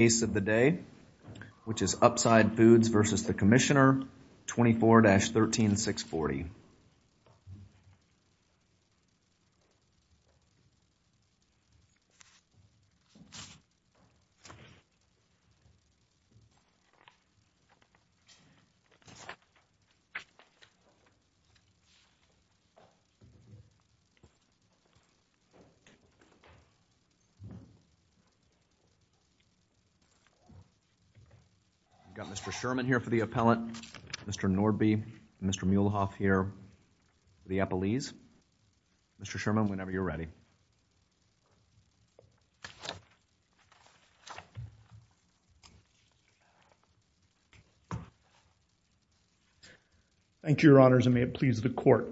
Case of the Day, which is Upside Foods v. The Commissioner, 24-13640. I've got Mr. Sherman here for the appellant, Mr. Norby, Mr. Muehlhoff here for the appellees. Mr. Sherman, whenever you're ready. Thank you, Your Honors, and may it please the Court.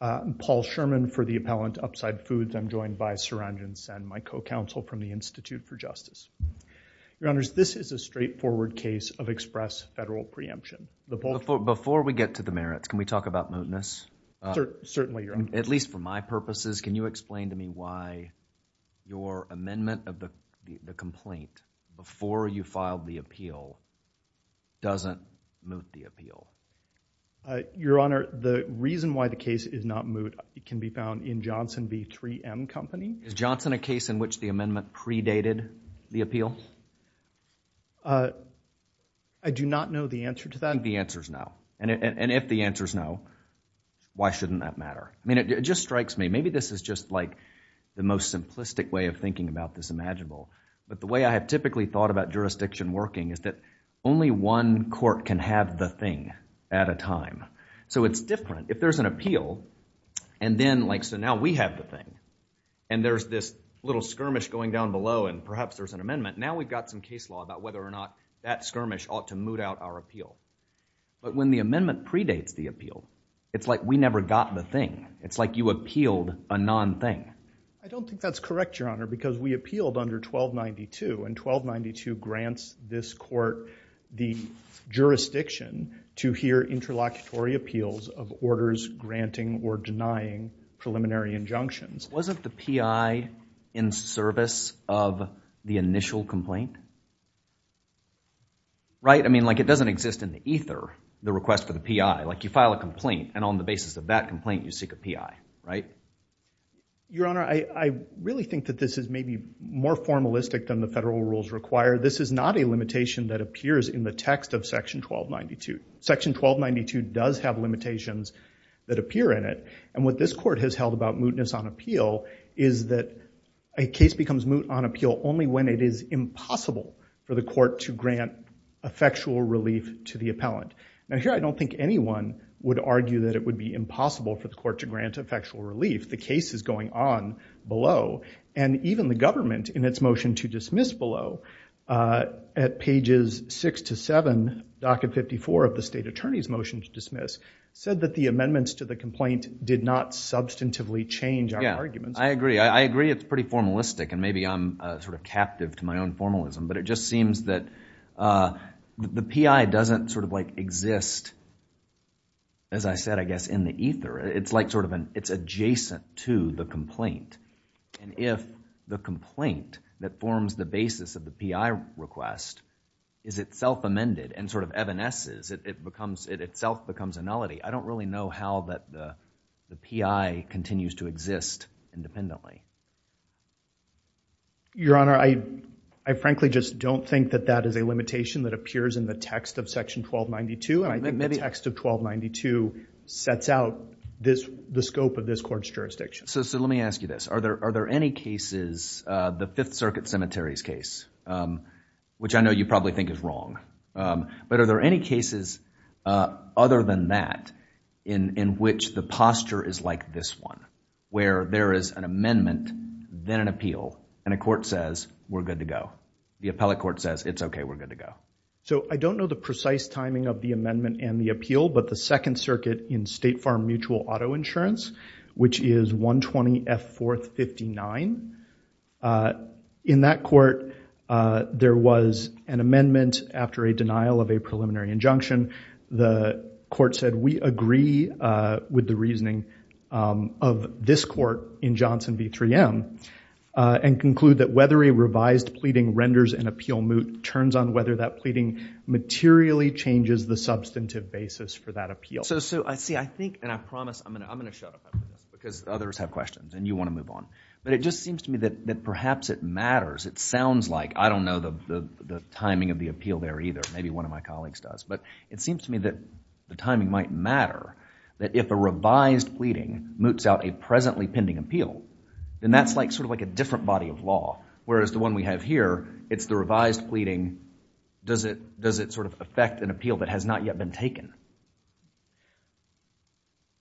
I'm Paul Sherman for the appellant, Upside Foods. I'm joined by Sir Angin Sen, my co-counsel from the Institute for Justice. Your Honors, this is a straightforward case of express federal preemption. Before we get to the merits, can we talk about mootness? Certainly, Your Honor. At least for my purposes, can you explain to me why your amendment of the complaint before you filed the appeal doesn't moot the appeal? Your Honor, the reason why the case is not moot can be found in Johnson v. 3M Company. Is Johnson a case in which the amendment predated the appeal? I do not know the answer to that. The answer's no. And if the answer's no, why shouldn't that matter? I mean, it just strikes me. Maybe this is just like the most simplistic way of thinking about this imaginable, but the way I have typically thought about jurisdiction working is that only one court can have the thing at a time. So it's different. If there's an appeal, and then, like, so now we have the thing, and there's this little skirmish going down below, and perhaps there's an amendment. Now we've got some case law about whether or not that skirmish ought to moot out our appeal. But when the amendment predates the appeal, it's like we never got the thing. It's like you appealed a non-thing. I don't think that's correct, Your Honor, because we appealed under 1292, and 1292 grants this court the jurisdiction to hear interlocutory appeals of orders granting or denying preliminary injunctions. Wasn't the P.I. in service of the initial complaint? Right? I mean, like, it doesn't exist in the ether, the request for the P.I. Like, you file a complaint, and on the basis of that complaint, you seek a P.I., right? Your Honor, I really think that this is maybe more formalistic than the federal rules require. This is not a limitation that appears in the text of section 1292. Section 1292 does have limitations that appear in it. And what this court has held about mootness on appeal is that a case becomes moot on appeal only when it is impossible for the court to grant effectual relief to the appellant. Now here, I don't think anyone would argue that it would be impossible for the court to grant effectual relief. The case is going on below. And even the government, in its motion to dismiss below, at pages 6-7, docket 54 of the state attorney's motion to dismiss, said that the amendments to the complaint did not substantively change our arguments. I agree. I agree it's pretty formalistic, and maybe I'm sort of captive to my own formalism, but it just seems that the P.I. doesn't sort of, like, exist, as I said, I guess, in the ether. It's like sort of adjacent to the complaint, and if the complaint that forms the basis of the P.I. request is itself amended and sort of evanesces, it itself becomes a nullity. I don't really know how the P.I. continues to exist independently. Your Honor, I frankly just don't think that that is a limitation that appears in the text of section 1292. And I think the text of 1292 sets out the scope of this court's jurisdiction. So let me ask you this. Are there any cases, the Fifth Circuit Cemetery's case, which I know you probably think is wrong, but are there any cases other than that in which the posture is like this one, where there is an amendment, then an appeal, and a court says, we're good to go? The appellate court says, it's okay, we're good to go. So I don't know the precise timing of the amendment and the appeal, but the Second Circuit in State Farm Mutual Auto Insurance, which is 120F459, in that court, there was an amendment after a denial of a preliminary injunction. The court said, we agree with the reasoning of this court in Johnson v. 3M, and conclude that whether a revised pleading renders an appeal moot turns on whether that pleading materially changes the substantive basis for that appeal. So, see, I think, and I promise, I'm going to shut up because others have questions and you want to move on. But it just seems to me that perhaps it matters. It sounds like, I don't know the timing of the appeal there either, maybe one of my colleagues does. But it seems to me that the timing might matter, that if a revised pleading moots out a presently pending appeal, then that's sort of like a different body of law, whereas the one we have here, it's the revised pleading, does it sort of affect an appeal that has not yet been taken?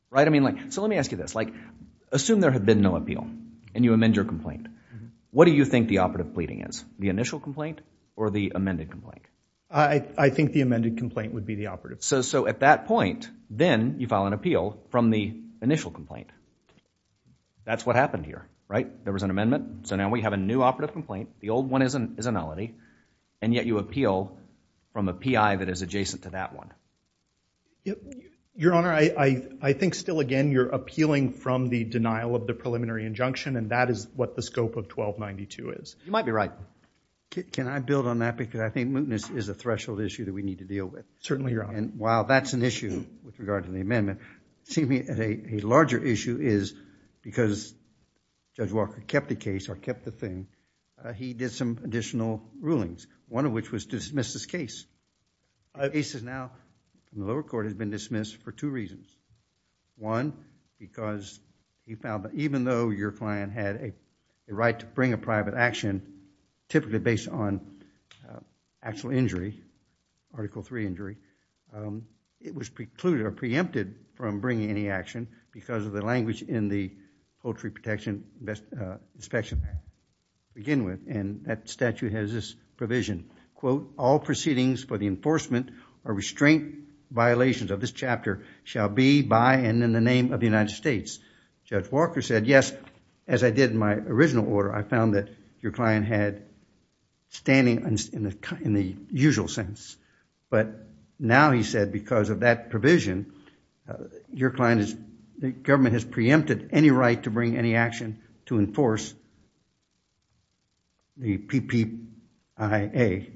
Right? I mean, so let me ask you this. Assume there had been no appeal, and you amend your complaint. What do you think the operative pleading is, the initial complaint or the amended complaint? I think the amended complaint would be the operative. So at that point, then you file an appeal from the initial complaint. That's what happened here. Right? There was an amendment. So now we have a new operative complaint. The old one is a nullity. And yet you appeal from a PI that is adjacent to that one. Your Honor, I think still again you're appealing from the denial of the preliminary injunction and that is what the scope of 1292 is. You might be right. Can I build on that? Because I think mootness is a threshold issue that we need to deal with. Certainly, Your Honor. While that's an issue with regard to the amendment, a larger issue is because Judge Walker kept the case or kept the thing, he did some additional rulings, one of which was to dismiss this The case is now in the lower court has been dismissed for two reasons. One, because he found that even though your client had a right to bring a private action typically based on actual injury, Article III injury, it was precluded or preempted from bringing any action because of the language in the Poultry Protection Inspection Act to begin with. And that statute has this provision, quote, all proceedings for the enforcement or restraint violations of this chapter shall be by and in the name of the United States. Judge Walker said, yes, as I did in my original order, I found that your client had standing in the usual sense. But now he said because of that provision, your client is, the government has preempted any right to bring any action to enforce the PPIA.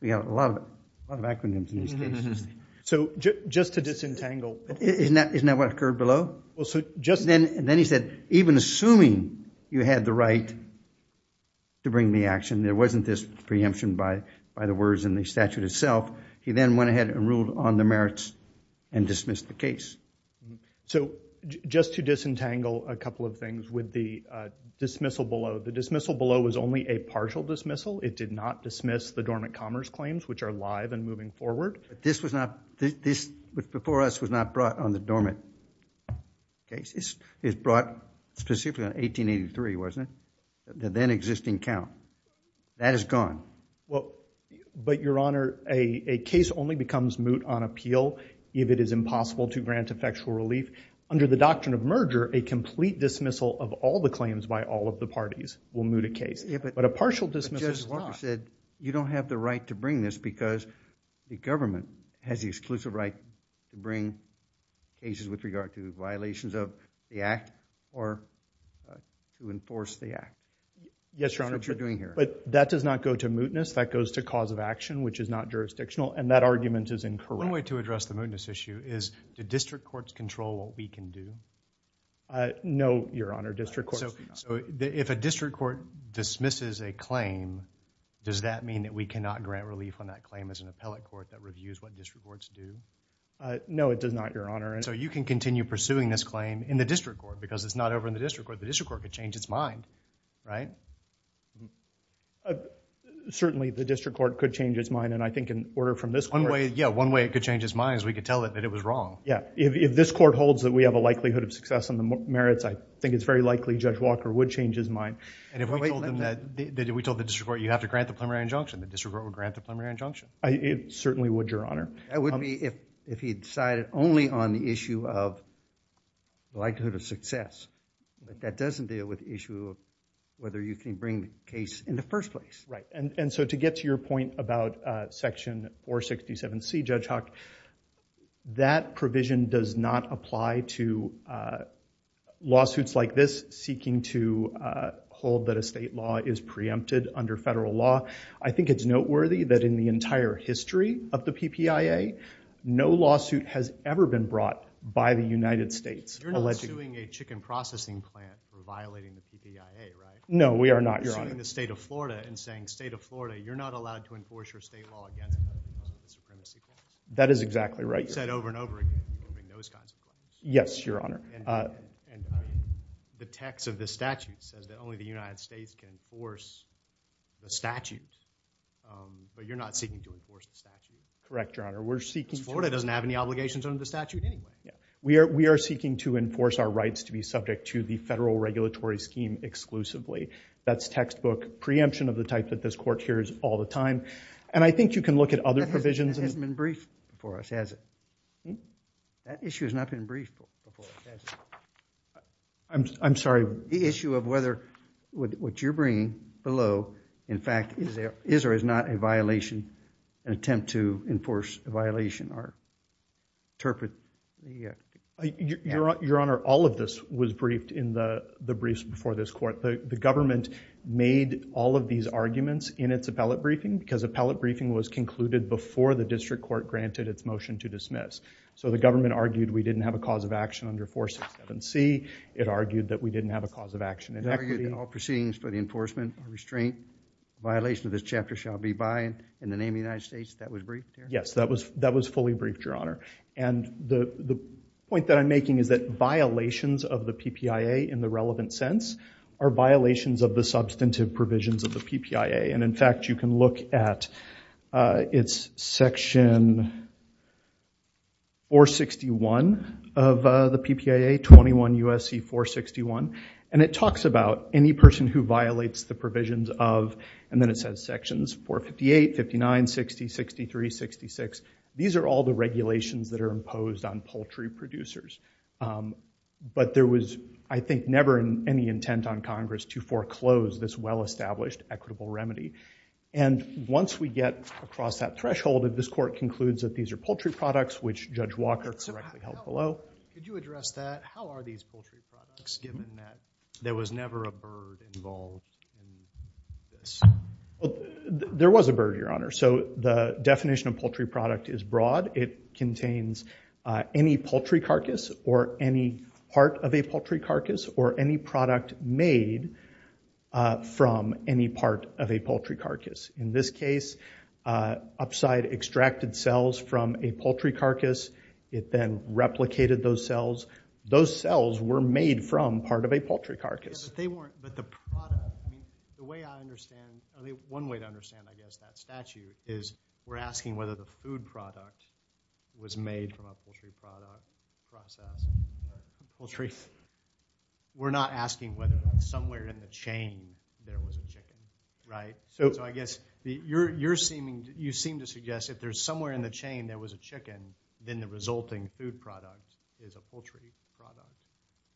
We have a lot of acronyms in these cases. So just to disentangle... Isn't that what occurred below? Well, so just... And then he said, even assuming you had the right to bring the action, there wasn't this preemption by the words in the statute itself, he then went ahead and ruled on the merits and dismissed the case. So just to disentangle a couple of things with the dismissal below, the dismissal below was only a partial dismissal. It did not dismiss the dormant commerce claims, which are live and moving forward. But this was not, this before us was not brought on the dormant cases. It was brought specifically on 1883, wasn't it? The then existing count. That is gone. Well, but Your Honor, a case only becomes moot on appeal if it is impossible to grant effectual relief. Under the doctrine of merger, a complete dismissal of all the claims by all of the parties will moot a case. But a partial dismissal is not. But you said you don't have the right to bring this because the government has the exclusive right to bring cases with regard to violations of the Act or to enforce the Yes, Your Honor. That's what you're doing here. But that does not go to mootness. That goes to cause of action, which is not jurisdictional. And that argument is incorrect. One way to address the mootness issue is, do district courts control what we can do? No, Your Honor. District courts do not. So if a district court dismisses a claim, does that mean that we cannot grant relief on that claim as an appellate court that reviews what district courts do? No, it does not, Your Honor. So you can continue pursuing this claim in the district court because it's not over in the district court. The district court could change its mind, right? Certainly the district court could change its mind. And I think in order from this court— Yeah, one way it could change its mind is we could tell it that it was wrong. Yeah. If this court holds that we have a likelihood of success on the merits, I think it's very likely Judge Walker would change his mind. And if we told the district court you have to grant the preliminary injunction, the district court would grant the preliminary injunction? Certainly would, Your Honor. That would be if he decided only on the issue of likelihood of success. That doesn't deal with the issue of whether you can bring the case in the first place. Right. And so to get to your point about Section 467C, Judge Hawk, that provision does not apply to lawsuits like this seeking to hold that a state law is preempted under federal law. I think it's noteworthy that in the entire history of the PPIA, no lawsuit has ever been brought by the United States. You're not suing a chicken processing plant for violating the PPIA, right? No, we are not, Your Honor. You're suing the state of Florida and saying, state of Florida, you're not allowed to enforce your state law against a state supremacy claim? That is exactly right, Your Honor. And you've said over and over again, you're moving those kinds of things. Yes, Your Honor. And the text of the statute says that only the United States can enforce the statute, but you're not seeking to enforce the statute? Correct, Your Honor. Because Florida doesn't have any obligations under the statute anyway. We are seeking to enforce our rights to be subject to the federal regulatory scheme exclusively. That's textbook preemption of the type that this court hears all the time. And I think you can look at other provisions. That hasn't been briefed for us, has it? That issue has not been briefed for us, has it? I'm sorry? The issue of whether what you're bringing below, in fact, is there or is not a violation, an attempt to enforce a violation or interpret the statute. Your Honor, all of this was briefed in the briefs before this court. The government made all of these arguments in its appellate briefing because appellate briefing was concluded before the district court granted its motion to dismiss. So the government argued we didn't have a cause of action under 467C. It argued that we didn't have a cause of action. It argued that all proceedings for the enforcement of restraint, violation of this chapter shall be by and in the name of the United States. That was briefed here? Yes, that was fully briefed, Your Honor. And the point that I'm making is that violations of the PPIA in the relevant sense are violations of the substantive provisions of the PPIA. And in fact, you can look at its section 461 of the PPIA, 21 U.S.C. 461. And it talks about any person who violates the provisions of, and then it says sections 458, 59, 60, 63, 66. These are all the regulations that are imposed on poultry producers. But there was, I think, never any intent on Congress to foreclose this well-established equitable remedy. And once we get across that threshold, this court concludes that these are poultry products, which Judge Walker directly held below. Could you address that? How are these poultry products, given that there was never a bird involved in this? There was a bird, Your Honor. So the definition of poultry product is broad. It contains any poultry carcass or any part of a poultry carcass or any product made from any part of a poultry carcass. In this case, Upside extracted cells from a poultry carcass. It then replicated those cells. Those cells were made from part of a poultry carcass. Yeah, but they weren't, but the product, I mean, the way I understand, I mean, one way to understand, I guess, that statute is we're asking whether the food product was made from a poultry product process. Poultry. We're not asking whether somewhere in the chain there was a chicken, right? So I guess you're seeming, you seem to suggest if there's somewhere in the chain there was a chicken, then the resulting food product is a poultry product.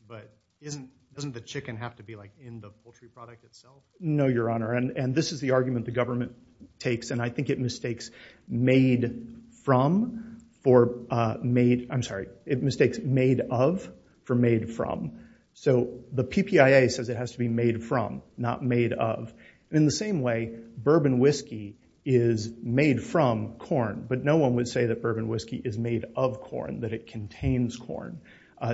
But isn't, doesn't the chicken have to be like in the poultry product itself? No, Your Honor, and this is the argument the government takes, and I think it mistakes made from for made, I'm sorry, it mistakes made of for made from. So the PPIA says it has to be made from, not made of. In the same way, bourbon whiskey is made from corn, but no one would say that bourbon whiskey is made of corn, that it contains corn.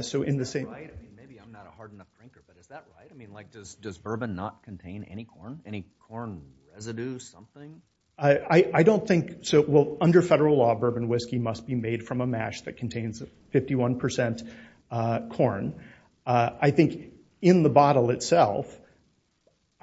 So in the same- Is that right? Maybe I'm not a hard enough drinker, but is that right? I mean, like, does bourbon not contain any corn, any corn residue, something? I don't think, so, well, under federal law, bourbon whiskey must be made from a mash that contains 51% corn. I think in the bottle itself,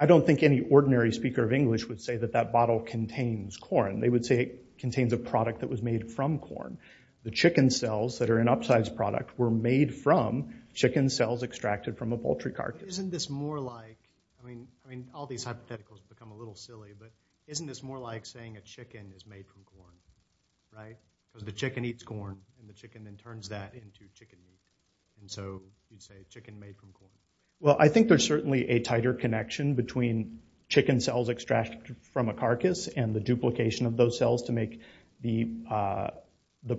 I don't think any ordinary speaker of English would say that that bottle contains corn. They would say it contains a product that was made from corn. The chicken cells that are an upsized product were made from chicken cells extracted from a poultry carcass. Isn't this more like, I mean, all these hypotheticals become a little silly, but isn't this more like saying a chicken is made from corn, right? So the chicken eats corn, and the chicken then turns that into chicken meat, and so you'd say chicken made from corn. Well, I think there's certainly a tighter connection between chicken cells extracted from a carcass and the duplication of those cells to make the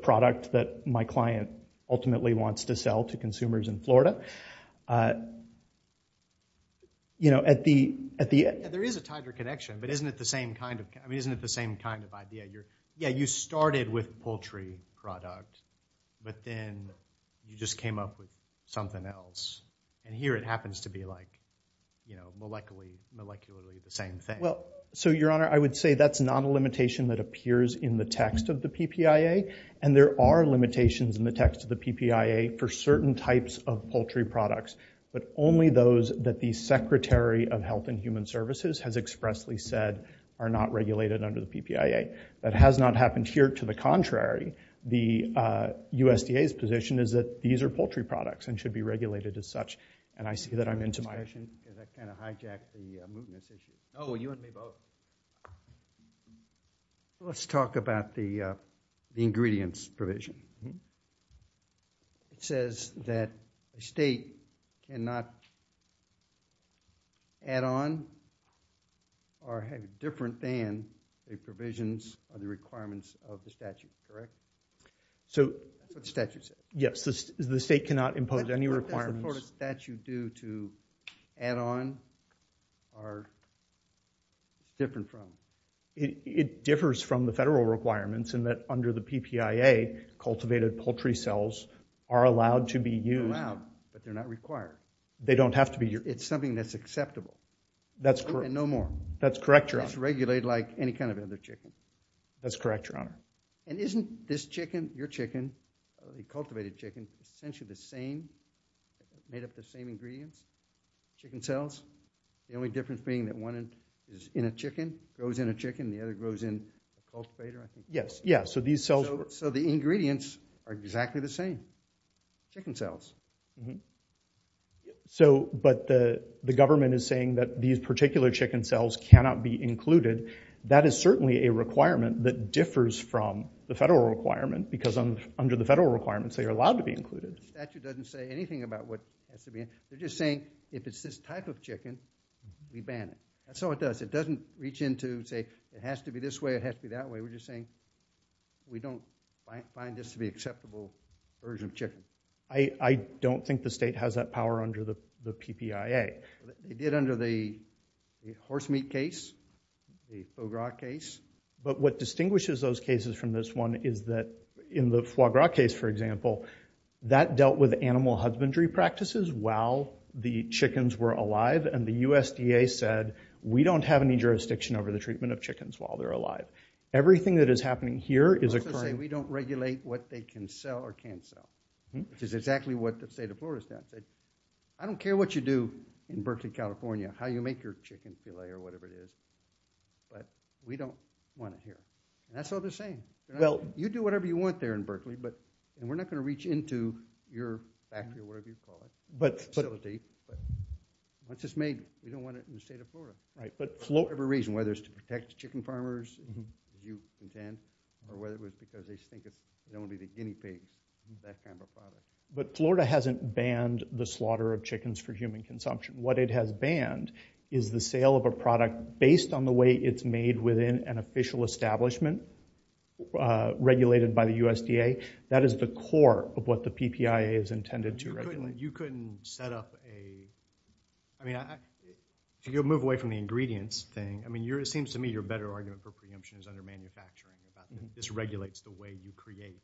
product that my client ultimately wants to sell to consumers in Florida. You know, at the- Yeah, there is a tighter connection, but isn't it the same kind of, I mean, isn't it the same kind of idea? You're, yeah, you started with poultry product, but then you just came up with something else, and here it happens to be like, you know, molecularly the same thing. Well, so, Your Honor, I would say that's not a limitation that appears in the text of the PPIA, and there are limitations in the text of the PPIA for certain types of poultry products, but only those that the Secretary of Health and Human Services has expressly said are not regulated under the PPIA. That has not happened here. To the contrary, the USDA's position is that these are poultry products and should be regulated as such, and I see that I'm into my- I have a question, because I kind of hijacked the movement. Oh, you want me to go? Let's talk about the ingredients provision. It says that a state cannot add on or have different than the provisions of the requirements of the statute, correct? So- What does the statute say? Yes, the state cannot impose any requirements- What does the court of statute do to add on or different from? It differs from the federal requirements in that under the PPIA, cultivated poultry cells are allowed to be used- They're allowed, but they're not required. They don't have to be- It's something that's acceptable. That's correct. And no more. That's correct, Your Honor. It's regulated like any kind of other chicken. That's correct, Your Honor. And isn't this chicken, your chicken, the cultivated chicken, essentially the same, made up of the same ingredients, chicken cells? The only difference being that one is in a chicken, grows in a chicken, the other grows in a cultivator, I think. Yes. Yeah. So these cells- So the ingredients are exactly the same, chicken cells. So, but the government is saying that these particular chicken cells cannot be included. That is certainly a requirement that differs from the federal requirement because under the federal requirements, they are allowed to be included. The statute doesn't say anything about what has to be included. They're just saying if it's this type of chicken, we ban it. That's all it does. It doesn't reach into and say it has to be this way, it has to be that way. We're just saying we don't find this to be an acceptable version of chicken. I don't think the state has that power under the PPIA. It did under the horse meat case, the foie gras case. But what distinguishes those cases from this one is that in the foie gras case, for example, that dealt with animal husbandry practices while the chickens were alive and the USDA said, we don't have any jurisdiction over the treatment of chickens while they're alive. Everything that is happening here is occurring- We don't regulate what they can sell or can't sell, which is exactly what the state of Florida has done. I don't care what you do in Berkeley, California, how you make your chicken filet or whatever it is, but we don't want it here. And that's all they're saying. Well, you do whatever you want there in Berkeley, but we're not going to reach into your factory or whatever you call it, facility. Once it's made, we don't want it in the state of Florida. For whatever reason, whether it's to protect the chicken farmers, as you said, or whether it was because they think it's going to be the guinea pig, that kind of a product. But Florida hasn't banned the slaughter of chickens for human consumption. What it has banned is the sale of a product based on the way it's made within an official establishment regulated by the USDA. That is the core of what the PPIA is intended to regulate. You couldn't set up a- I mean, if you move away from the ingredients thing, it seems to me your better argument for preemption is under manufacturing. This regulates the way you create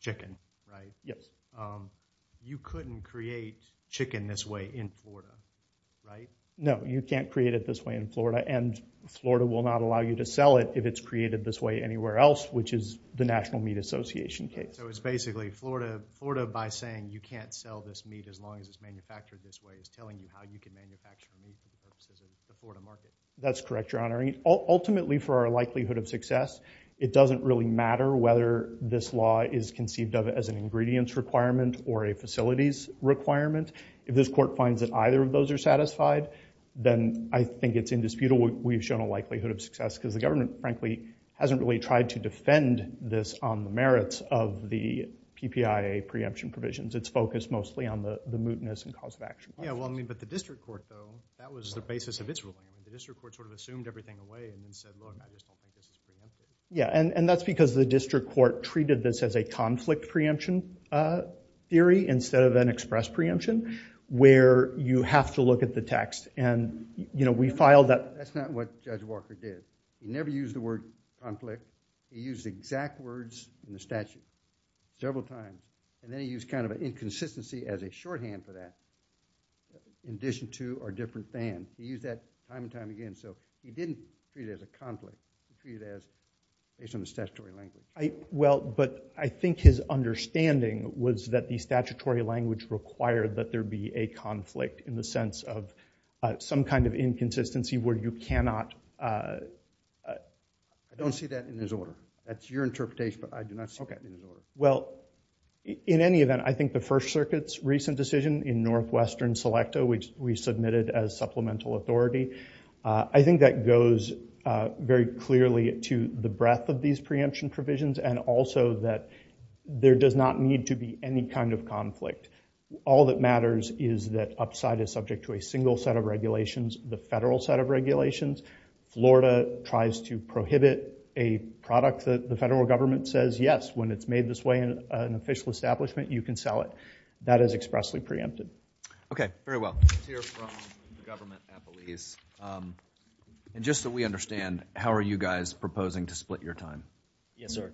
chicken, right? Yes. You couldn't create chicken this way in Florida, right? No, you can't create it this way in Florida, and Florida will not allow you to sell it if it's created this way anywhere else, which is the National Meat Association case. So it's basically Florida, by saying you can't sell this meat as long as it's manufactured this way, is telling you how you can manufacture meat because this is the Florida market. That's correct, Your Honor. Ultimately, for our likelihood of success, it doesn't really matter whether this law is conceived of as an ingredients requirement or a facilities requirement. If this court finds that either of those are satisfied, then I think it's indisputable we've shown a likelihood of success because the government, frankly, hasn't really tried to defend this on the merits of the PPIA preemption provisions. It's focused mostly on the mootness and cause of action. Yeah, well, I mean, but the district court, though, that was the basis of its ruling. The district court sort of assumed everything away and then said, look, I just want this preemption. Yeah, and that's because the district court treated this as a conflict preemption theory instead of an express preemption, where you have to look at the text. That's not what Judge Walker did. He never used the word conflict. He used exact words in the statute several times, and then he used kind of an inconsistency as a shorthand for that in addition to or different than. He used that time and time again, so he didn't treat it as a conflict. He treated it as based on the statutory language. Well, but I think his understanding was that the statutory language required that there be a conflict in the sense of some kind of inconsistency where you cannot. I don't see that in his order. That's your interpretation, but I do not see it in his order. Well, in any event, I think the First Circuit's recent decision in Northwestern Selecta, which we submitted as supplemental authority, I think that goes very clearly to the breadth of these preemption provisions and also that there does not need to be any kind of conflict. All that matters is that Upside is subject to a single set of regulations, the federal set of regulations. Florida tries to prohibit a product that the federal government says, yes, when it's made this way in an official establishment, you can sell it. That is expressly preempted. Okay. Very well. Let's hear from the government at Belize. And just so we understand, how are you guys proposing to split your time? Yes, sir.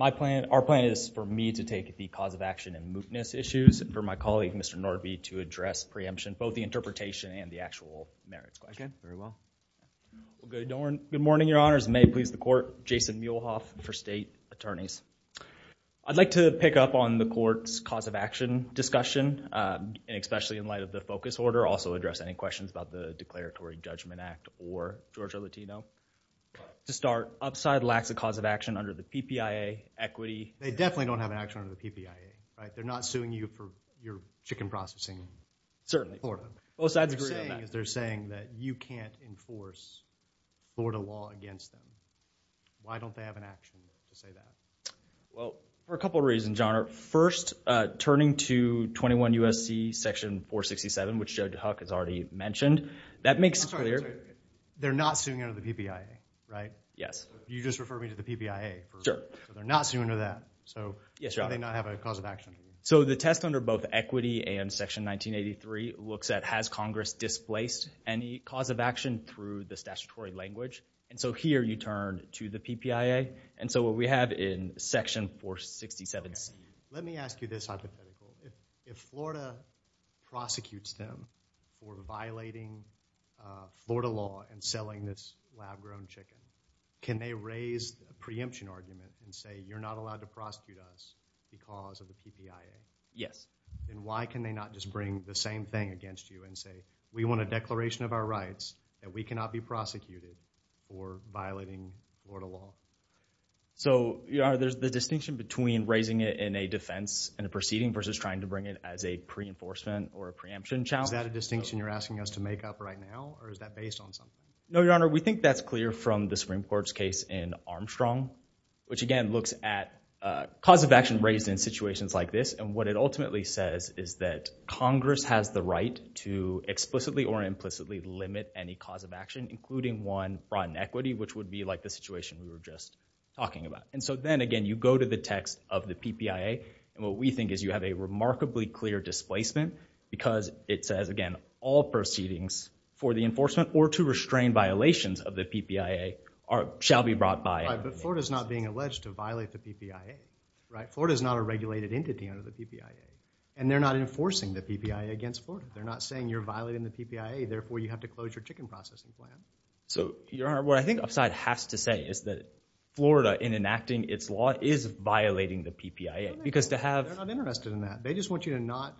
Our plan is for me to take the cause of action and mootness issues and for my colleague, Mr. Norby, to address preemption, both the interpretation and the actual merits question. Okay. Very well. Good morning, Your Honors. May it please the Court. Jason Muehlhoff for State Attorneys. I'd like to pick up on the Court's cause of action discussion, especially in light of the focus order. Also address any questions about the Declaratory Judgment Act or Georgia Latino. To start, Upside lacks a cause of action under the PPIA. They definitely don't have an action under the PPIA, right? They're not suing you for your chicken processing in Florida. Both sides agree on that. What they're saying is they're saying that you can't enforce Florida law against them. Why don't they have an action to say that? Well, for a couple of reasons, Your Honor. First, turning to 21 U.S.C. section 467, which Judge Huck has already mentioned. I'm sorry. They're not suing under the PPIA, right? Yes. You just referred me to the PPIA. Sure. They're not suing under that. Yes, Your Honor. So why do they not have a cause of action? So the test under both equity and section 1983 looks at has Congress displaced any cause of action through the statutory language. And so here you turn to the PPIA. And so what we have in section 467C. Let me ask you this. If Florida prosecutes them for violating Florida law and selling this lab-grown chicken, can they raise the preemption argument and say you're not allowed to prosecute us because of the PPIA? Yes. Then why can they not just bring the same thing against you and say we want a declaration of our rights and we cannot be prosecuted for violating Florida law? So, Your Honor, there's the distinction between raising it in a defense in a proceeding versus trying to bring it as a pre-enforcement or a preemption challenge. Is that a distinction you're asking us to make up right now? Or is that based on something? No, Your Honor. We think that's clear from the Supreme Court's case in Armstrong, which again looks at cause of action raised in situations like this. And what it ultimately says is that Congress has the right to explicitly or implicitly limit any cause of action, including one brought in equity, which would be like the situation we were just talking about. And so then, again, you go to the text of the PPIA and what we think is you have a remarkably clear displacement because it says, again, all proceedings for the enforcement or to restrain violations of the PPIA shall be brought by— Right, but Florida's not being alleged to violate the PPIA, right? Florida's not a regulated entity under the PPIA. And they're not enforcing the PPIA against Florida. They're not saying you're violating the PPIA, therefore you have to close your chicken processing plant. So, Your Honor, what I think Upside has to say is that Florida, in enacting its law, is violating the PPIA because to have— They're not interested in that. They just want you to not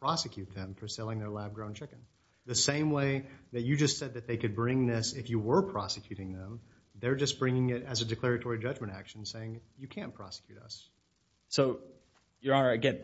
prosecute them for selling their lab-grown chicken. The same way that you just said that they could bring this if you were prosecuting them, they're just bringing it as a declaratory judgment action saying you can't prosecute us. So, Your Honor, again,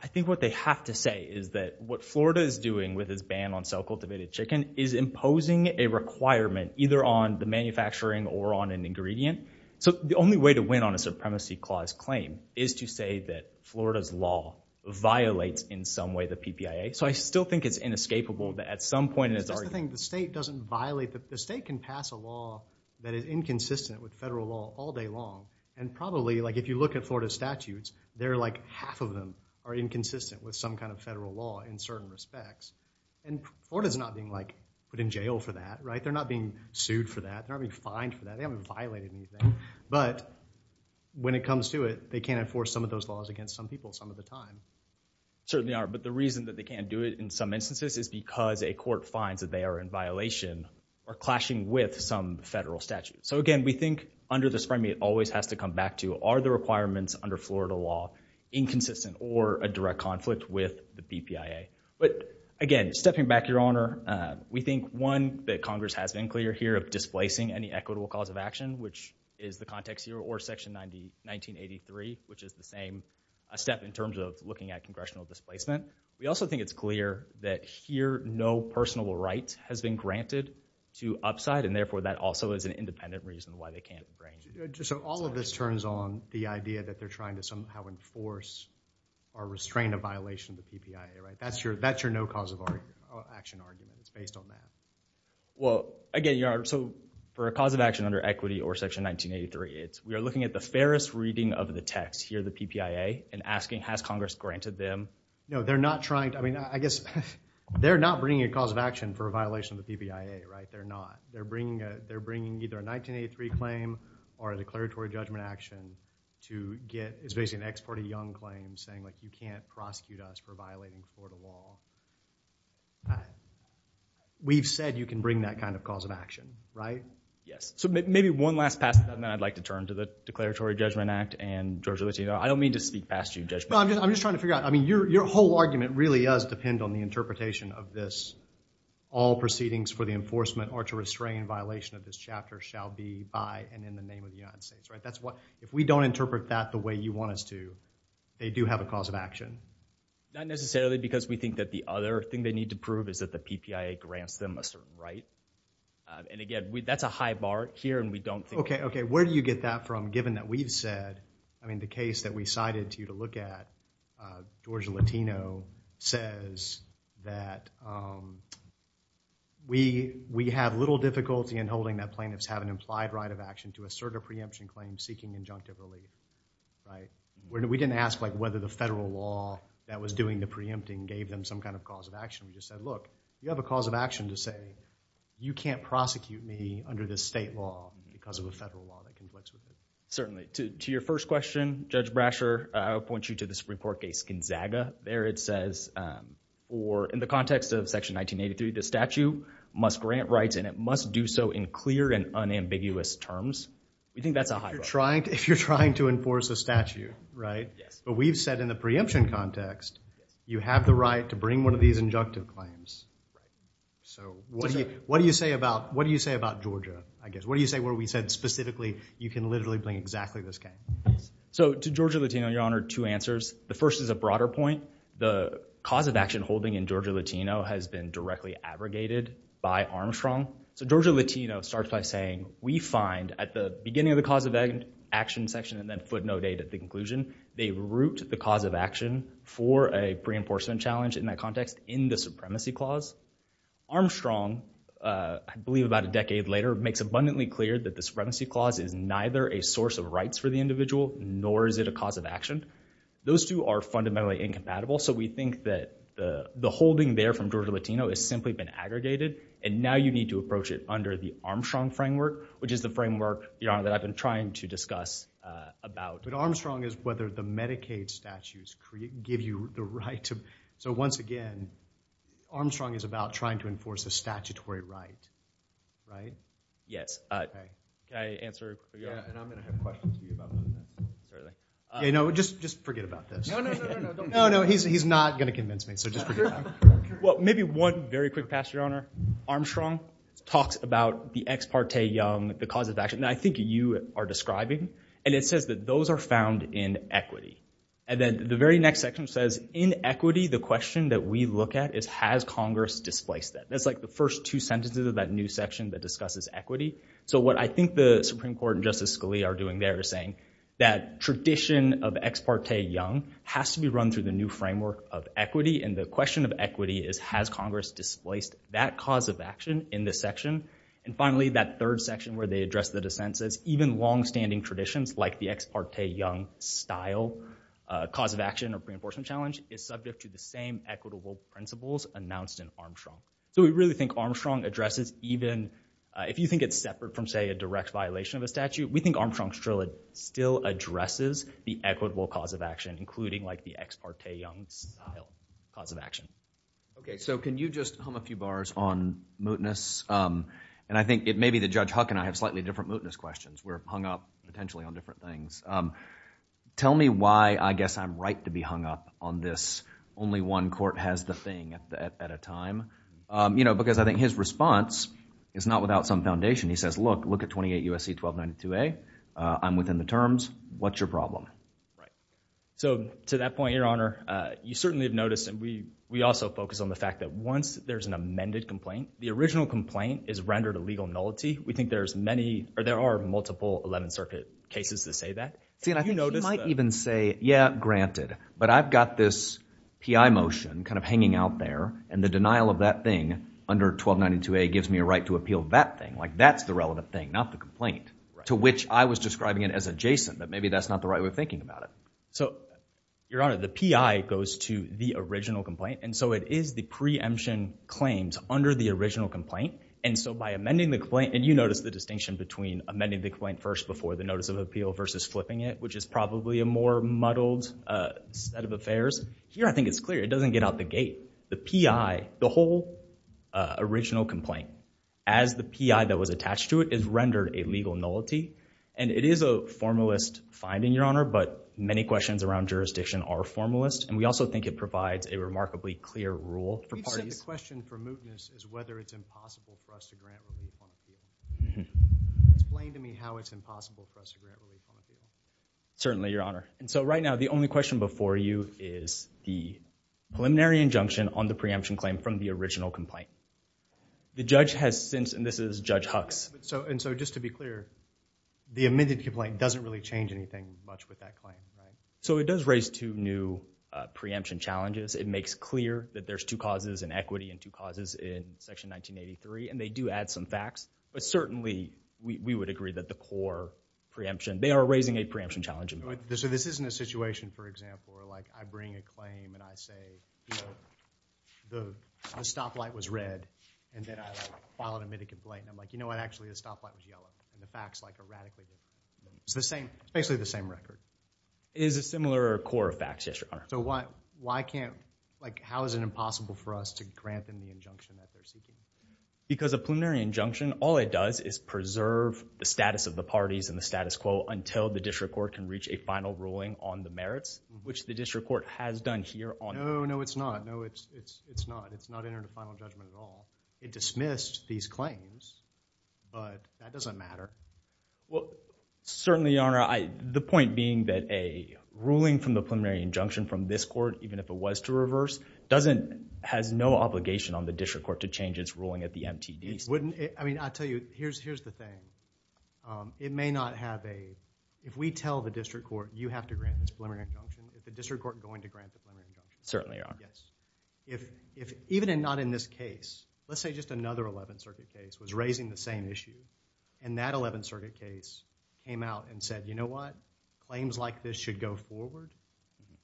I think what they have to say is that what Florida is doing with its ban on self-cultivated chicken is imposing a requirement either on the manufacturing or on an ingredient. So, the only way to win on a supremacy clause claim is to say that Florida's law violates in some way the PPIA. So, I still think it's inescapable that at some point in its argument— That's the thing. The state doesn't violate—the state can pass a law that is inconsistent with federal law all day long. And probably, like, if you look at Florida's statutes, they're like half of them are in certain respects. And Florida's not being, like, put in jail for that, right? They're not being sued for that. They're not being fined for that. They haven't violated anything. But when it comes to it, they can't enforce some of those laws against some people some of the time. Certainly are, but the reason that they can't do it in some instances is because a court finds that they are in violation or clashing with some federal statute. So, again, we think under the supremacy, it always has to come back to are the requirements under Florida law inconsistent or a direct conflict with the PPIA? But again, stepping back, Your Honor, we think, one, that Congress has been clear here of displacing any equitable cause of action, which is the context here, or Section 1983, which is the same step in terms of looking at congressional displacement. We also think it's clear that here no personable right has been granted to upside, and therefore that also is an independent reason why they can't bring— So all of this turns on the idea that they're trying to somehow enforce or restrain a violation of the PPIA, right? That's your no cause of action argument. It's based on that. Well, again, Your Honor, so for a cause of action under equity or Section 1983, we are looking at the fairest reading of the text here, the PPIA, and asking has Congress granted them— No, they're not trying to—I mean, I guess they're not bringing a cause of action for a violation of the PPIA, right? They're not. or a declaratory judgment action to get—it's basically an ex parte young claim saying, like, you can't prosecute us for violating the Florida law. We've said you can bring that kind of cause of action, right? Yes. So maybe one last passage, and then I'd like to turn to the Declaratory Judgment Act, and Judge Littino, I don't mean to speak past you, Judge— Well, I'm just trying to figure out—I mean, your whole argument really does depend on the interpretation of this, all proceedings for the enforcement or to restrain violation of this chapter shall be by and in the name of the United States, right? That's what—if we don't interpret that the way you want us to, they do have a cause of action. Not necessarily because we think that the other thing they need to prove is that the PPIA grants them a certain right. And again, that's a high bar here, and we don't think— Okay, okay. Where do you get that from, given that we've said—I mean, the case that we cited to you George Littino says that we have little difficulty in holding that plaintiffs have an implied right of action to assert a preemption claim seeking injunctive relief, right? We didn't ask whether the federal law that was doing the preempting gave them some kind of cause of action. We just said, look, you have a cause of action to say you can't prosecute me under this state law because of a federal law that conflicts with it. Certainly. To your first question, Judge Brasher, I will point you to the Supreme Court case, Gonzaga. There it says, or in the context of Section 1983, the statute must grant rights and it must do so in clear and unambiguous terms. We think that's a high bar. If you're trying to enforce a statute, right? Yes. But we've said in the preemption context, you have the right to bring one of these injunctive claims. Right. So what do you say about Georgia, I guess? What do you say where we said specifically you can literally bring exactly this case? So to Georgia Latino, Your Honor, two answers. The first is a broader point. The cause of action holding in Georgia Latino has been directly abrogated by Armstrong. So Georgia Latino starts by saying, we find at the beginning of the cause of action section and then footnote eight at the conclusion, they root the cause of action for a pre-enforcement challenge in that context in the supremacy clause. Armstrong, I believe about a decade later, makes abundantly clear that the supremacy clause is neither a source of rights for the individual, nor is it a cause of action. Those two are fundamentally incompatible. So we think that the holding there from Georgia Latino has simply been aggregated. And now you need to approach it under the Armstrong framework, which is the framework, Your Honor, that I've been trying to discuss about. But Armstrong is whether the Medicaid statutes give you the right to. So once again, Armstrong is about trying to enforce a statutory right. Right? Yes. I answer. And I'm going to have questions. You know, just just forget about this. No, no, no, no, no. No, no. He's not going to convince me. So just. Well, maybe one very quick pass, Your Honor. Armstrong talks about the ex parte, the cause of action. And I think you are describing and it says that those are found in equity. And then the very next section says in equity, the question that we look at is, has Congress displaced that? That's like the first two sentences of that new section that discusses equity. So what I think the Supreme Court and Justice Scalia are doing there is saying that tradition of ex parte young has to be run through the new framework of equity. And the question of equity is, has Congress displaced that cause of action in this section? And finally, that third section where they address the dissent says even longstanding traditions like the ex parte young style cause of action or pre enforcement challenge is subject to the same equitable principles announced in Armstrong. So we really think Armstrong addresses even if you think it's separate from, say, a direct violation of a statute. We think Armstrong still addresses the equitable cause of action, including like the ex parte young cause of action. OK, so can you just hum a few bars on mootness? And I think it may be that Judge Huck and I have slightly different mootness questions. We're hung up potentially on different things. Tell me why I guess I'm right to be hung up on this only one court has the thing at a time. You know, because I think his response is not without some foundation. He says, look, look at 28 U.S.C. 1292A. I'm within the terms. What's your problem? So to that point, your honor, you certainly have noticed. And we we also focus on the fact that once there's an amended complaint, the original complaint is rendered a legal nullity. We think there's many or there are multiple 11th Circuit cases to say that, you know, might even say, yeah, granted. But I've got this motion kind of hanging out there. And the denial of that thing under 1292A gives me a right to appeal that thing. Like that's the relevant thing, not the complaint to which I was describing it as adjacent. But maybe that's not the right way of thinking about it. So, your honor, the P.I. goes to the original complaint. And so it is the preemption claims under the original complaint. And so by amending the claim and you notice the distinction between amending the claim first before the notice of appeal versus flipping it, which is probably a more muddled set of affairs. Here, I think it's clear it doesn't get out the gate. The P.I., the whole original complaint, as the P.I. that was attached to it is rendered a legal nullity. And it is a formalist finding, your honor. But many questions around jurisdiction are formalist. And we also think it provides a remarkably clear rule for parties. The question for mootness is whether it's impossible for us to grant relief on appeal. Explain to me how it's impossible for us to grant relief on appeal. Certainly, your honor. And so right now, the only question before you is the preliminary injunction on the preemption claim from the original complaint. The judge has since, and this is Judge Hux. And so just to be clear, the amended complaint doesn't really change anything much with that claim. So it does raise two new preemption challenges. It makes clear that there's two causes in equity and two causes in Section 1983. And they do add some facts. But certainly, we would agree that the core preemption, they are raising a preemption challenge. So this isn't a situation, for example, where, like, I bring a claim and I say, you know, the stoplight was red. And then I, like, file an amended complaint. And I'm like, you know what? Actually, the stoplight was yellow. And the facts, like, are radically different. It's the same. It's basically the same record. It is a similar core of facts, yes, your honor. So why can't, like, how is it impossible for us to grant them the injunction that they're seeking? Because a preliminary injunction, all it does is preserve the status of the parties and the status quo until the district court can reach a final ruling on the merits, which the district court has done here. No, no, it's not. No, it's not. It's not entered into final judgment at all. It dismissed these claims. But that doesn't matter. Well, certainly, your honor, the point being that a ruling from the preliminary injunction from this court, even if it was to reverse, doesn't, has no obligation on the district court to change its ruling at the MTD. Wouldn't it, I mean, I'll tell you, here's the thing. It may not have a, if we tell the district court, you have to grant this preliminary injunction, is the district court going to grant the preliminary injunction? Certainly, your honor. Yes. If, even if not in this case, let's say just another 11th Circuit case was raising the same issue, and that 11th Circuit case came out and said, you know what? Claims like this should go forward.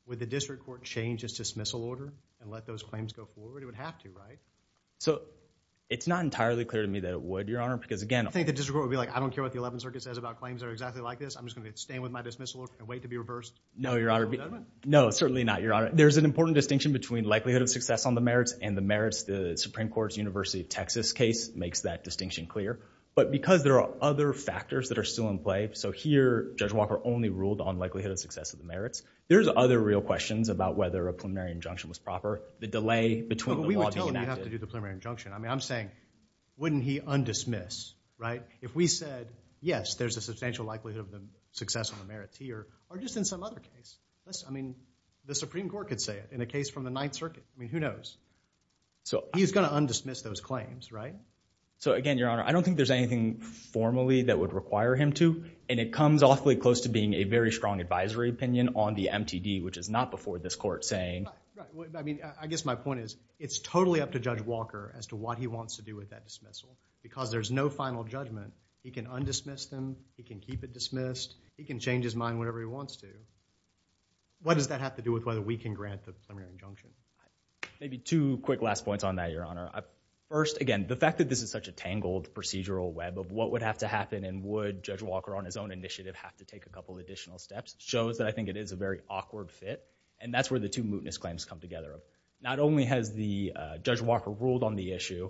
Would the district court change its dismissal order and let those claims go forward? It would have to, right? So, it's not entirely clear to me that it would, your honor, because, again, I think the district court would be like, I don't care what the 11th Circuit says about claims that are exactly like this. I'm just going to stand with my dismissal order and wait to be reversed. No, your honor. No, certainly not, your honor. There's an important distinction between likelihood of success on the merits and the merits, the Supreme Court's University of Texas case makes that distinction clear. But because there are other factors that are still in play, so here Judge Walker only ruled on likelihood of success of the merits, there's other real questions about whether a preliminary injunction was proper, the delay between the law being enacted. But we were told we'd have to do the preliminary injunction. I mean, I'm saying, wouldn't he undismiss, right? If we said, yes, there's a substantial likelihood of success on the merits here, or just in some other case, I mean, the Supreme Court could say it in a case from the 9th Circuit. I mean, who knows? He's going to undismiss those claims, right? So, again, your honor, I don't think there's anything formally that would require him to. And it comes awfully close to being a very strong advisory opinion on the MTD, which is not before this court saying. I mean, I guess my point is it's totally up to Judge Walker as to what he wants to do with that dismissal. Because there's no final judgment, he can undismiss them, he can keep it dismissed, he can change his mind whenever he wants to. What does that have to do with whether we can grant the preliminary injunction? Maybe two quick last points on that, your honor. First, again, the fact that this is such a tangled procedural web of what would have to happen and would Judge Walker on his own initiative have to take a couple additional steps shows that I think it is a very awkward fit. And that's where the two mootness claims come together. Not only has Judge Walker ruled on the issue,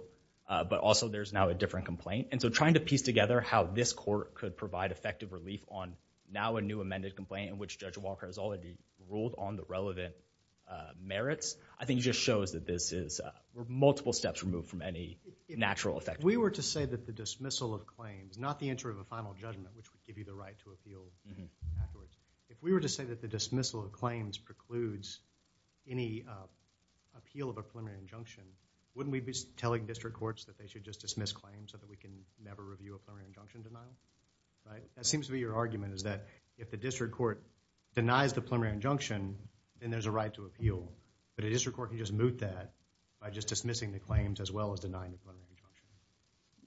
but also there's now a different complaint. And so trying to piece together how this court could provide effective relief on now a new amended complaint in which Judge Walker has already ruled on the relevant merits, I think just shows that this is multiple steps removed from any natural effect. If we were to say that the dismissal of claims, not the entry of a final judgment, which would give you the right to appeal afterwards, if we were to say that the dismissal of claims precludes any appeal of a preliminary injunction, wouldn't we be telling district courts that they should just dismiss claims so that we can never review a preliminary injunction denial? That seems to be your argument is that if the district court denies the preliminary injunction, then there's a right to appeal. But a district court can just moot that by just dismissing the claims as well as denying the preliminary injunction.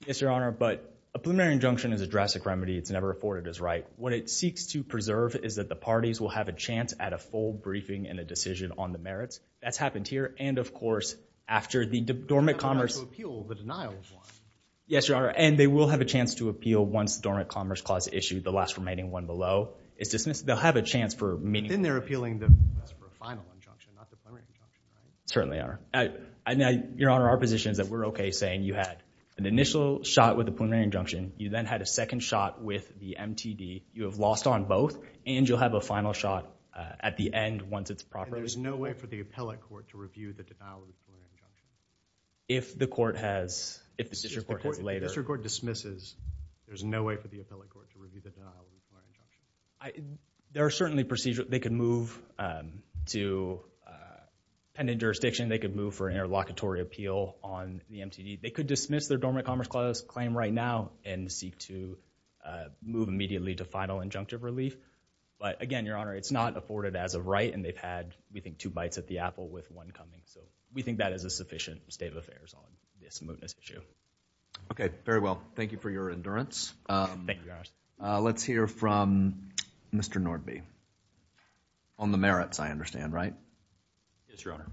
Yes, Your Honor. But a preliminary injunction is a drastic remedy. It's never afforded as right. What it seeks to preserve is that the parties will have a chance at a full briefing and a decision on the merits. That's happened here. And, of course, after the dormant commerce— They'll have a chance to appeal the denial of one. Yes, Your Honor. And they will have a chance to appeal once the dormant commerce clause issue, the last remaining one below, is dismissed. They'll have a chance for— Then they're appealing the final injunction, not the preliminary injunction, right? Certainly are. Your Honor, our position is that we're okay saying you had an initial shot with the preliminary injunction. You then had a second shot with the MTD. You have lost on both, and you'll have a final shot at the end once it's properly— And there's no way for the appellate court to review the denial of the preliminary injunction? If the court has—if the district court has later— If the district court dismisses, there's no way for the appellate court to review the denial of the preliminary injunction? There are certainly procedures. They could move to pending jurisdiction. They could move for an interlocutory appeal on the MTD. They could dismiss their dormant commerce claim right now and seek to move immediately to final injunctive relief. But, again, Your Honor, it's not afforded as of right, and they've had, we think, two bites at the apple with one coming. So we think that is a sufficient state of affairs on this mootness issue. Okay, very well. Thank you for your endurance. Thank you, Your Honor. Let's hear from Mr. Nordby on the merits, I understand, right? Yes, Your Honor.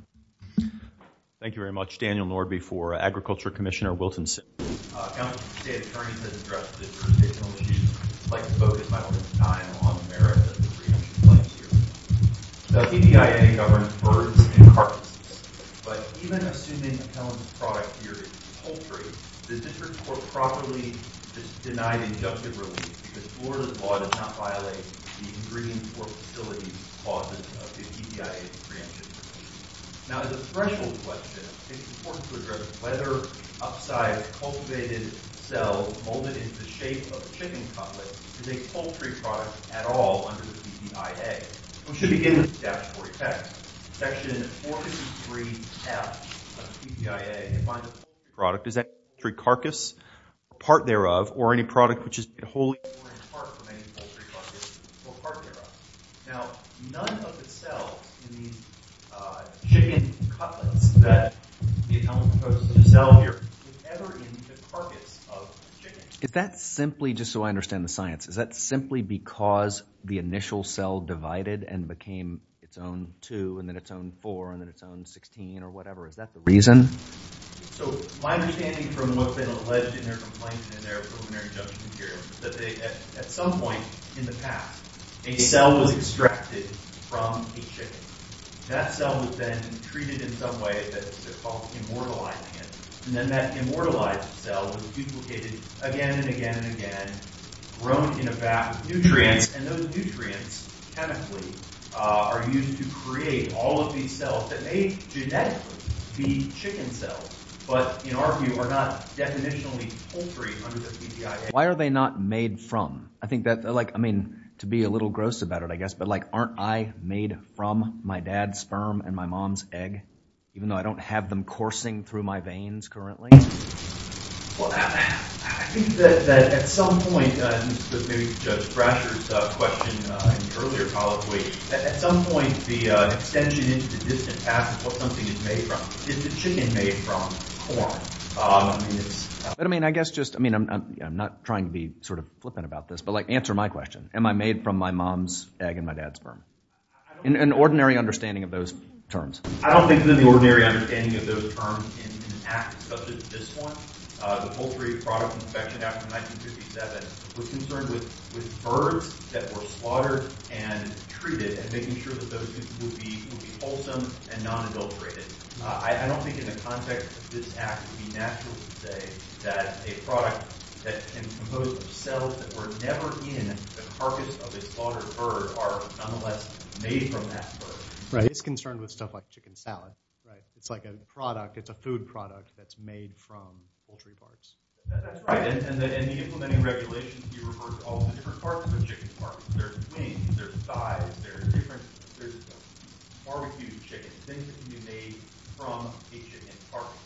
Thank you very much. Daniel Nordby for Agriculture Commissioner Wilton. Counsel, the state attorney has addressed this jurisdictional issue. I'd like to focus my time on the merits of the preemption claims here. Now, the EPIA government birds and carcasses, but even assuming that Helen's product here is poultry, the district court properly denied injunctive relief because Florida's law does not violate the ingredients or facilities clauses of the EPIA's preemption. Now, as a threshold question, it's important to address whether upsized cultivated cells molded into the shape of a chicken cutlet is a poultry product at all under the EPIA. We should begin with the statutory text, Section 453F of the EPIA, and find that the poultry product is any poultry carcass, a part thereof, or any product which is wholly or in part from any poultry carcass, or a part thereof. Now, none of the cells in these chicken cutlets that the attorney proposed to sell here were ever in the carcass of a chicken. Is that simply, just so I understand the science, is that simply because the initial cell divided and became its own two, and then its own four, and then its own 16, or whatever? Is that the reason? So, my understanding from what's been alleged in their complaint and their preliminary judgment here is that at some point in the past, a cell was extracted from a chicken. That cell was then treated in some way that's called immortalizing it, and then that immortalized cell was duplicated again and again and again, grown in a vat with nutrients, and those nutrients chemically are used to create all of these cells that may genetically be chicken cells, but in our view are not definitionally poultry under the EPIA. Why are they not made from? I mean, to be a little gross about it, I guess, but aren't I made from my dad's sperm and my mom's egg, even though I don't have them coursing through my veins currently? Well, I think that at some point, and this is maybe Judge Brasher's question in the earlier colloquy, at some point the extension into the distant past is what something is made from. Is the chicken made from corn? But, I mean, I guess just, I mean, I'm not trying to be sort of flippant about this, but answer my question. Am I made from my mom's egg and my dad's sperm? In an ordinary understanding of those terms. I don't think in an ordinary understanding of those terms in an act such as this one, the poultry product inspection act of 1957 was concerned with birds that were slaughtered and treated and making sure that those would be wholesome and non-adulterated. I don't think in the context of this act it would be natural to say that a product that can compose of cells that were never in the carcass of a slaughtered bird are nonetheless made from that bird. Right. It's concerned with stuff like chicken salad, right? It's like a product, it's a food product that's made from poultry parts. That's right. And in the implementing regulations, you reverse all the different parts of a chicken's carcass. There's wings, there's thighs, there's different, there's barbecued chicken. Things that can be made from a chicken's carcass.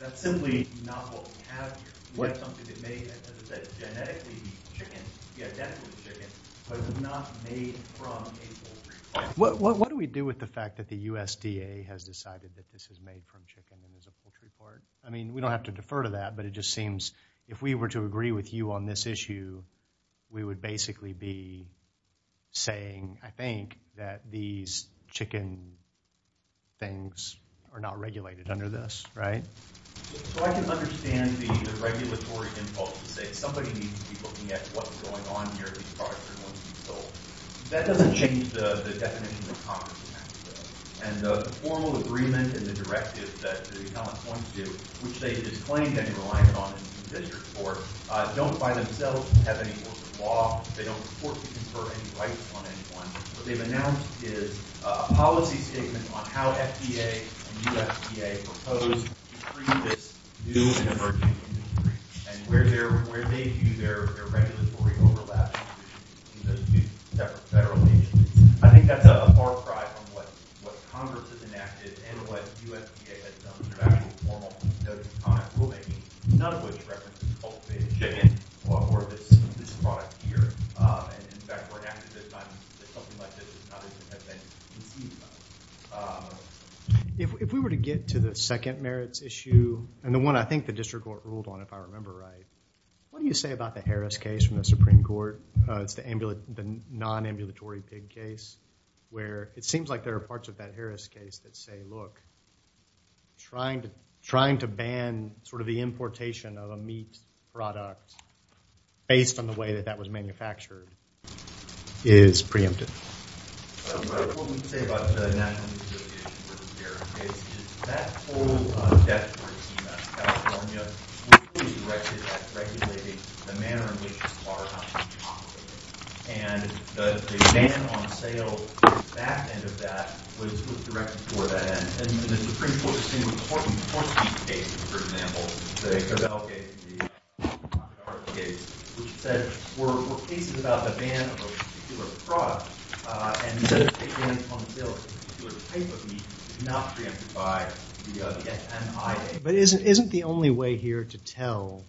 That's simply not what we have here. We have something that's genetically chicken, genetically chicken, but it's not made from a poultry part. What do we do with the fact that the USDA has decided that this is made from chicken and is a poultry part? I mean, we don't have to defer to that, but it just seems if we were to agree with you on this issue, we would basically be saying, I think, that these chicken things are not regulated under this, right? So I can understand the regulatory impulse to say somebody needs to be looking at what's going on here, these products are going to be sold. That doesn't change the definition of commerce in that. And the formal agreement and the directive that the economists want to do, which they have just claimed any reliance on in this report, don't by themselves have any rules of law. They don't report to confer any rights on anyone. What they've announced is a policy statement on how FDA and USDA propose to treat this new emerging industry and where they view their regulatory overlap in those two separate federal agencies. I think that's a far cry from what Congress has enacted and what USDA has done in their actual formal notes and comments. None of which references cultivated chicken or this product here. In fact, we're happy that something like this has been conceived of. If we were to get to the second merits issue, and the one I think the district court ruled on, if I remember right, what do you say about the Harris case from the Supreme Court? It's the non-ambulatory pig case, where it seems like there are parts of that Harris case that say, trying to ban sort of the importation of a meat product based on the way that that was manufactured is preemptive. What we can say about the National Meat Association here is that whole California was directed at regulating the manner in which And the Supreme Court distinguished the horse meat case, for example, the Covell case, the Rockefeller case, which said, were cases about the ban of a particular product and instead of taking it on sale as a particular type of meat, did not preempt it by the FMIA. But isn't the only way here to tell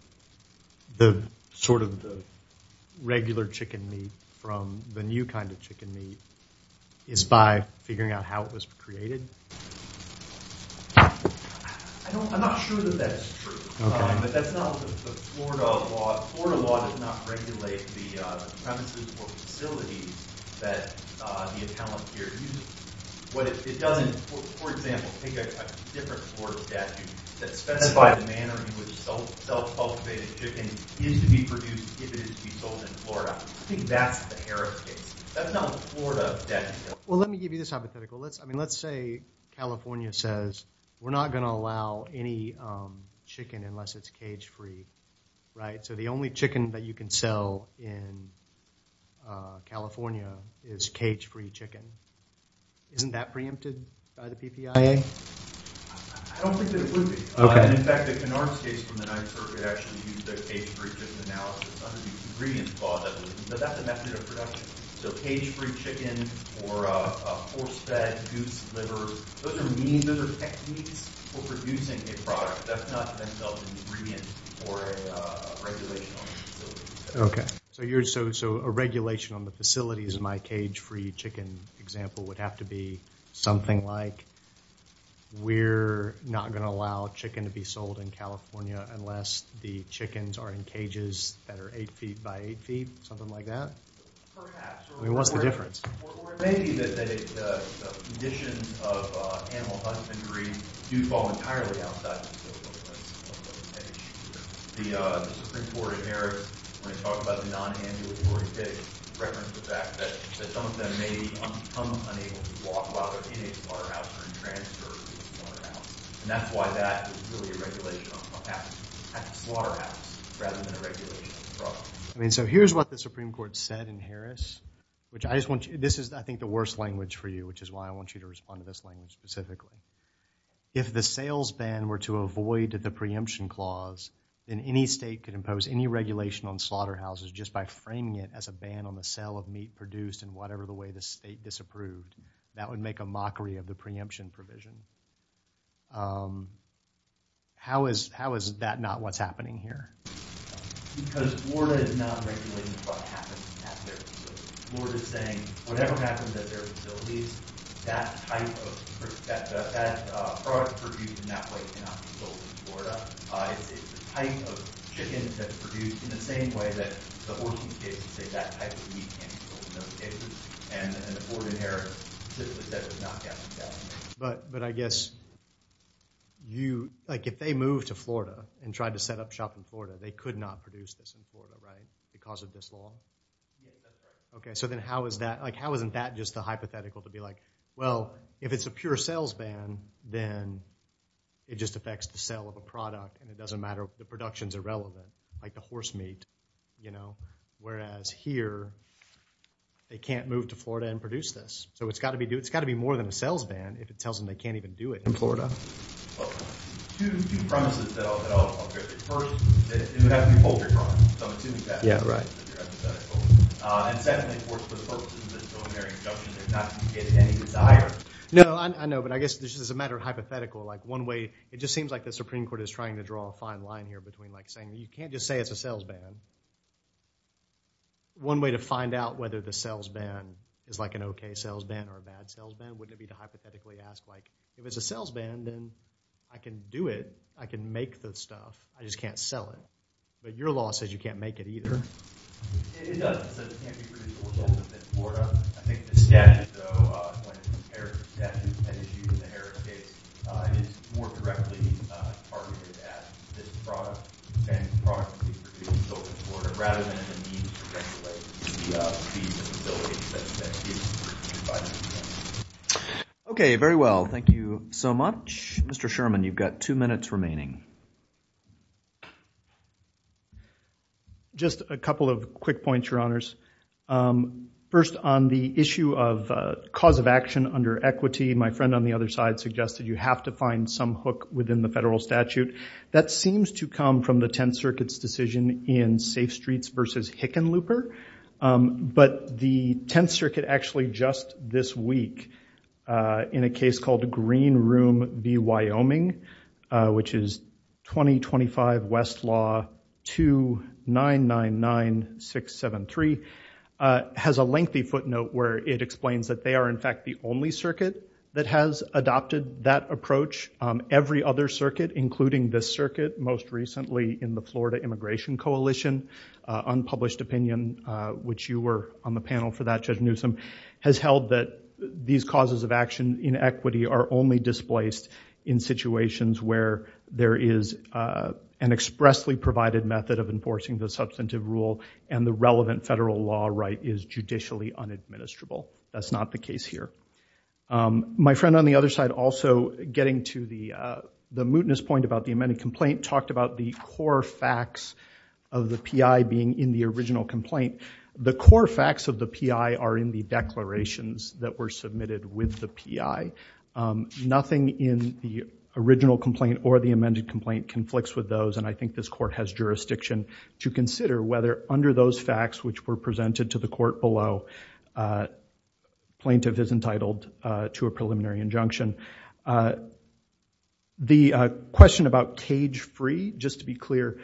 the sort of the regular chicken meat from the new kind of chicken meat is by figuring out how it was created? I'm not sure that that's true. But that's not the Florida law. The Florida law does not regulate the premises or facilities that the appellant here uses. It doesn't, for example, take a different Florida statute that specifies the manner in which self-cultivated chicken is to be produced if it is to be sold in Florida. I think that's the Harris case. That's not the Florida statute. Well, let me give you this hypothetical. I mean, let's say California says we're not going to allow any chicken unless it's cage-free, right? So the only chicken that you can sell in California is cage-free chicken. Isn't that preempted by the PPIA? I don't think that it would be. In fact, the Canars case from the 9th Circuit actually used the cage-free chicken analysis under the ingredients law, but that's a method of production. So cage-free chicken or horse-fed goose liver, those are means, those are techniques for producing a product. That's not an ingredient for a regulation on the facility. Okay. So a regulation on the facilities in my cage-free chicken example would have to be something like we're not going to allow chicken to be sold in California unless the chickens are in cages that are 8 feet by 8 feet, something like that? I mean, what's the difference? I mean, so here's what the Supreme Court said in Harris, which I just want you, this is, I think, the worst language for you, which is why I want you to respond to this language specifically. If the sales ban were to avoid the preemption clause, then any state could impose any regulation on slaughterhouses just by framing it as a ban on the sale of meat produced in whatever the way the state disapproved. That would make a mockery of the preemption provision. How is that not what's happening here? Because Florida is not regulating what happens at their facility. Florida is saying whatever happens at their facilities, that type of product produced in that way cannot be sold in Florida. It's the type of chicken that's produced in the same way that the horses in cages say that type of meat can't be sold in those cages. And the board in Harris specifically said it was not going to be that way. But I guess you, like, if they moved to Florida and tried to set up shop in Florida, they could not produce this in Florida, right, because of this law? Okay, so then how is that, like, how isn't that just a hypothetical to be like, well, if it's a pure sales ban, then it just affects the sale of a product and it doesn't matter if the production's irrelevant, like the horse meat, you know. Whereas here, they can't move to Florida and produce this. So it's got to be more than a sales ban if it tells them they can't even do it in Florida. Two premises that I'll get to. First, it would have to be poultry farms, so I'm assuming that. Yeah, right. And secondly, for the purposes of this preliminary injunction, it's not to get any desire. No, I know, but I guess this is a matter of hypothetical. Like, one way, it just seems like the Supreme Court is trying to draw a fine line here between, like, saying you can't just say it's a sales ban. One way to find out whether the sales ban is like an okay sales ban or a bad sales ban would be to hypothetically ask, like, if it's a sales ban, then I can do it. I can make the stuff. I just can't sell it. But your law says you can't make it either. It does. It says it can't be produced or sold in Florida. I think the statute, though, when it's compared to the statute that is used in the Harris case, it is more directly targeted at this product and the products being produced sold in Florida rather than the need to regulate the fees and facilities that are being purchased by the company. Okay, very well. Thank you so much. Mr. Sherman, you've got two minutes remaining. Just a couple of quick points, Your Honors. First, on the issue of cause of action under equity, my friend on the other side suggested you have to find some hook within the federal statute. That seems to come from the Tenth Circuit's decision in Safe Streets v. Hickenlooper. But the Tenth Circuit actually just this week, in a case called Green Room v. Wyoming, which is 2025 West Law 2999673, has a lengthy footnote where it explains that they are, in fact, the only circuit that has adopted that approach. Every other circuit, including this circuit, most recently in the Florida Immigration Coalition, unpublished opinion, which you were on the panel for that, Judge Newsom, has held that these causes of action in equity are only displaced in situations where there is an expressly provided method of enforcing the substantive rule and the relevant federal law right is judicially unadministrable. That's not the case here. My friend on the other side also, getting to the mootness point about the amended complaint, talked about the core facts of the PI being in the original complaint. The core facts of the PI are in the declarations that were submitted with the PI. Nothing in the original complaint or the amended complaint conflicts with those, and I think this court has jurisdiction to consider whether, under those facts which were presented to the court below, plaintiff is entitled to a preliminary injunction. The question about cage-free, just to be clear,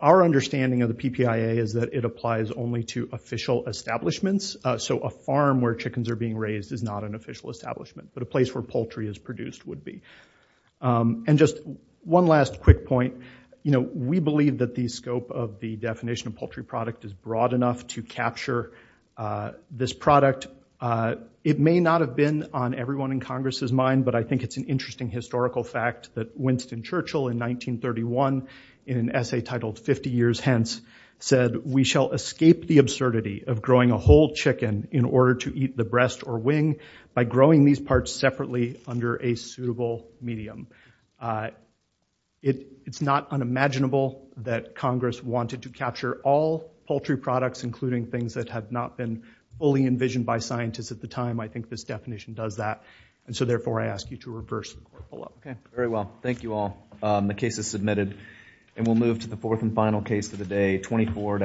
our understanding of the PPIA is that it applies only to official establishments. So a farm where chickens are being raised is not an official establishment, but a place where poultry is produced would be. And just one last quick point. We believe that the scope of the definition of poultry product is broad enough to capture this product. It may not have been on everyone in Congress's mind, but I think it's an interesting historical fact that Winston Churchill, in 1931, in an essay titled 50 Years Hence, said, we shall escape the absurdity of growing a whole chicken in order to eat the breast or wing by growing these parts separately under a suitable medium. It's not unimaginable that Congress wanted to capture all poultry products, including things that had not been fully envisioned by scientists at the time. I think this definition does that. And so therefore, I ask you to reverse the court pull-up. Okay, very well. Thank you all. The case is submitted. And we'll move to the fourth and final case of the day, 24 to...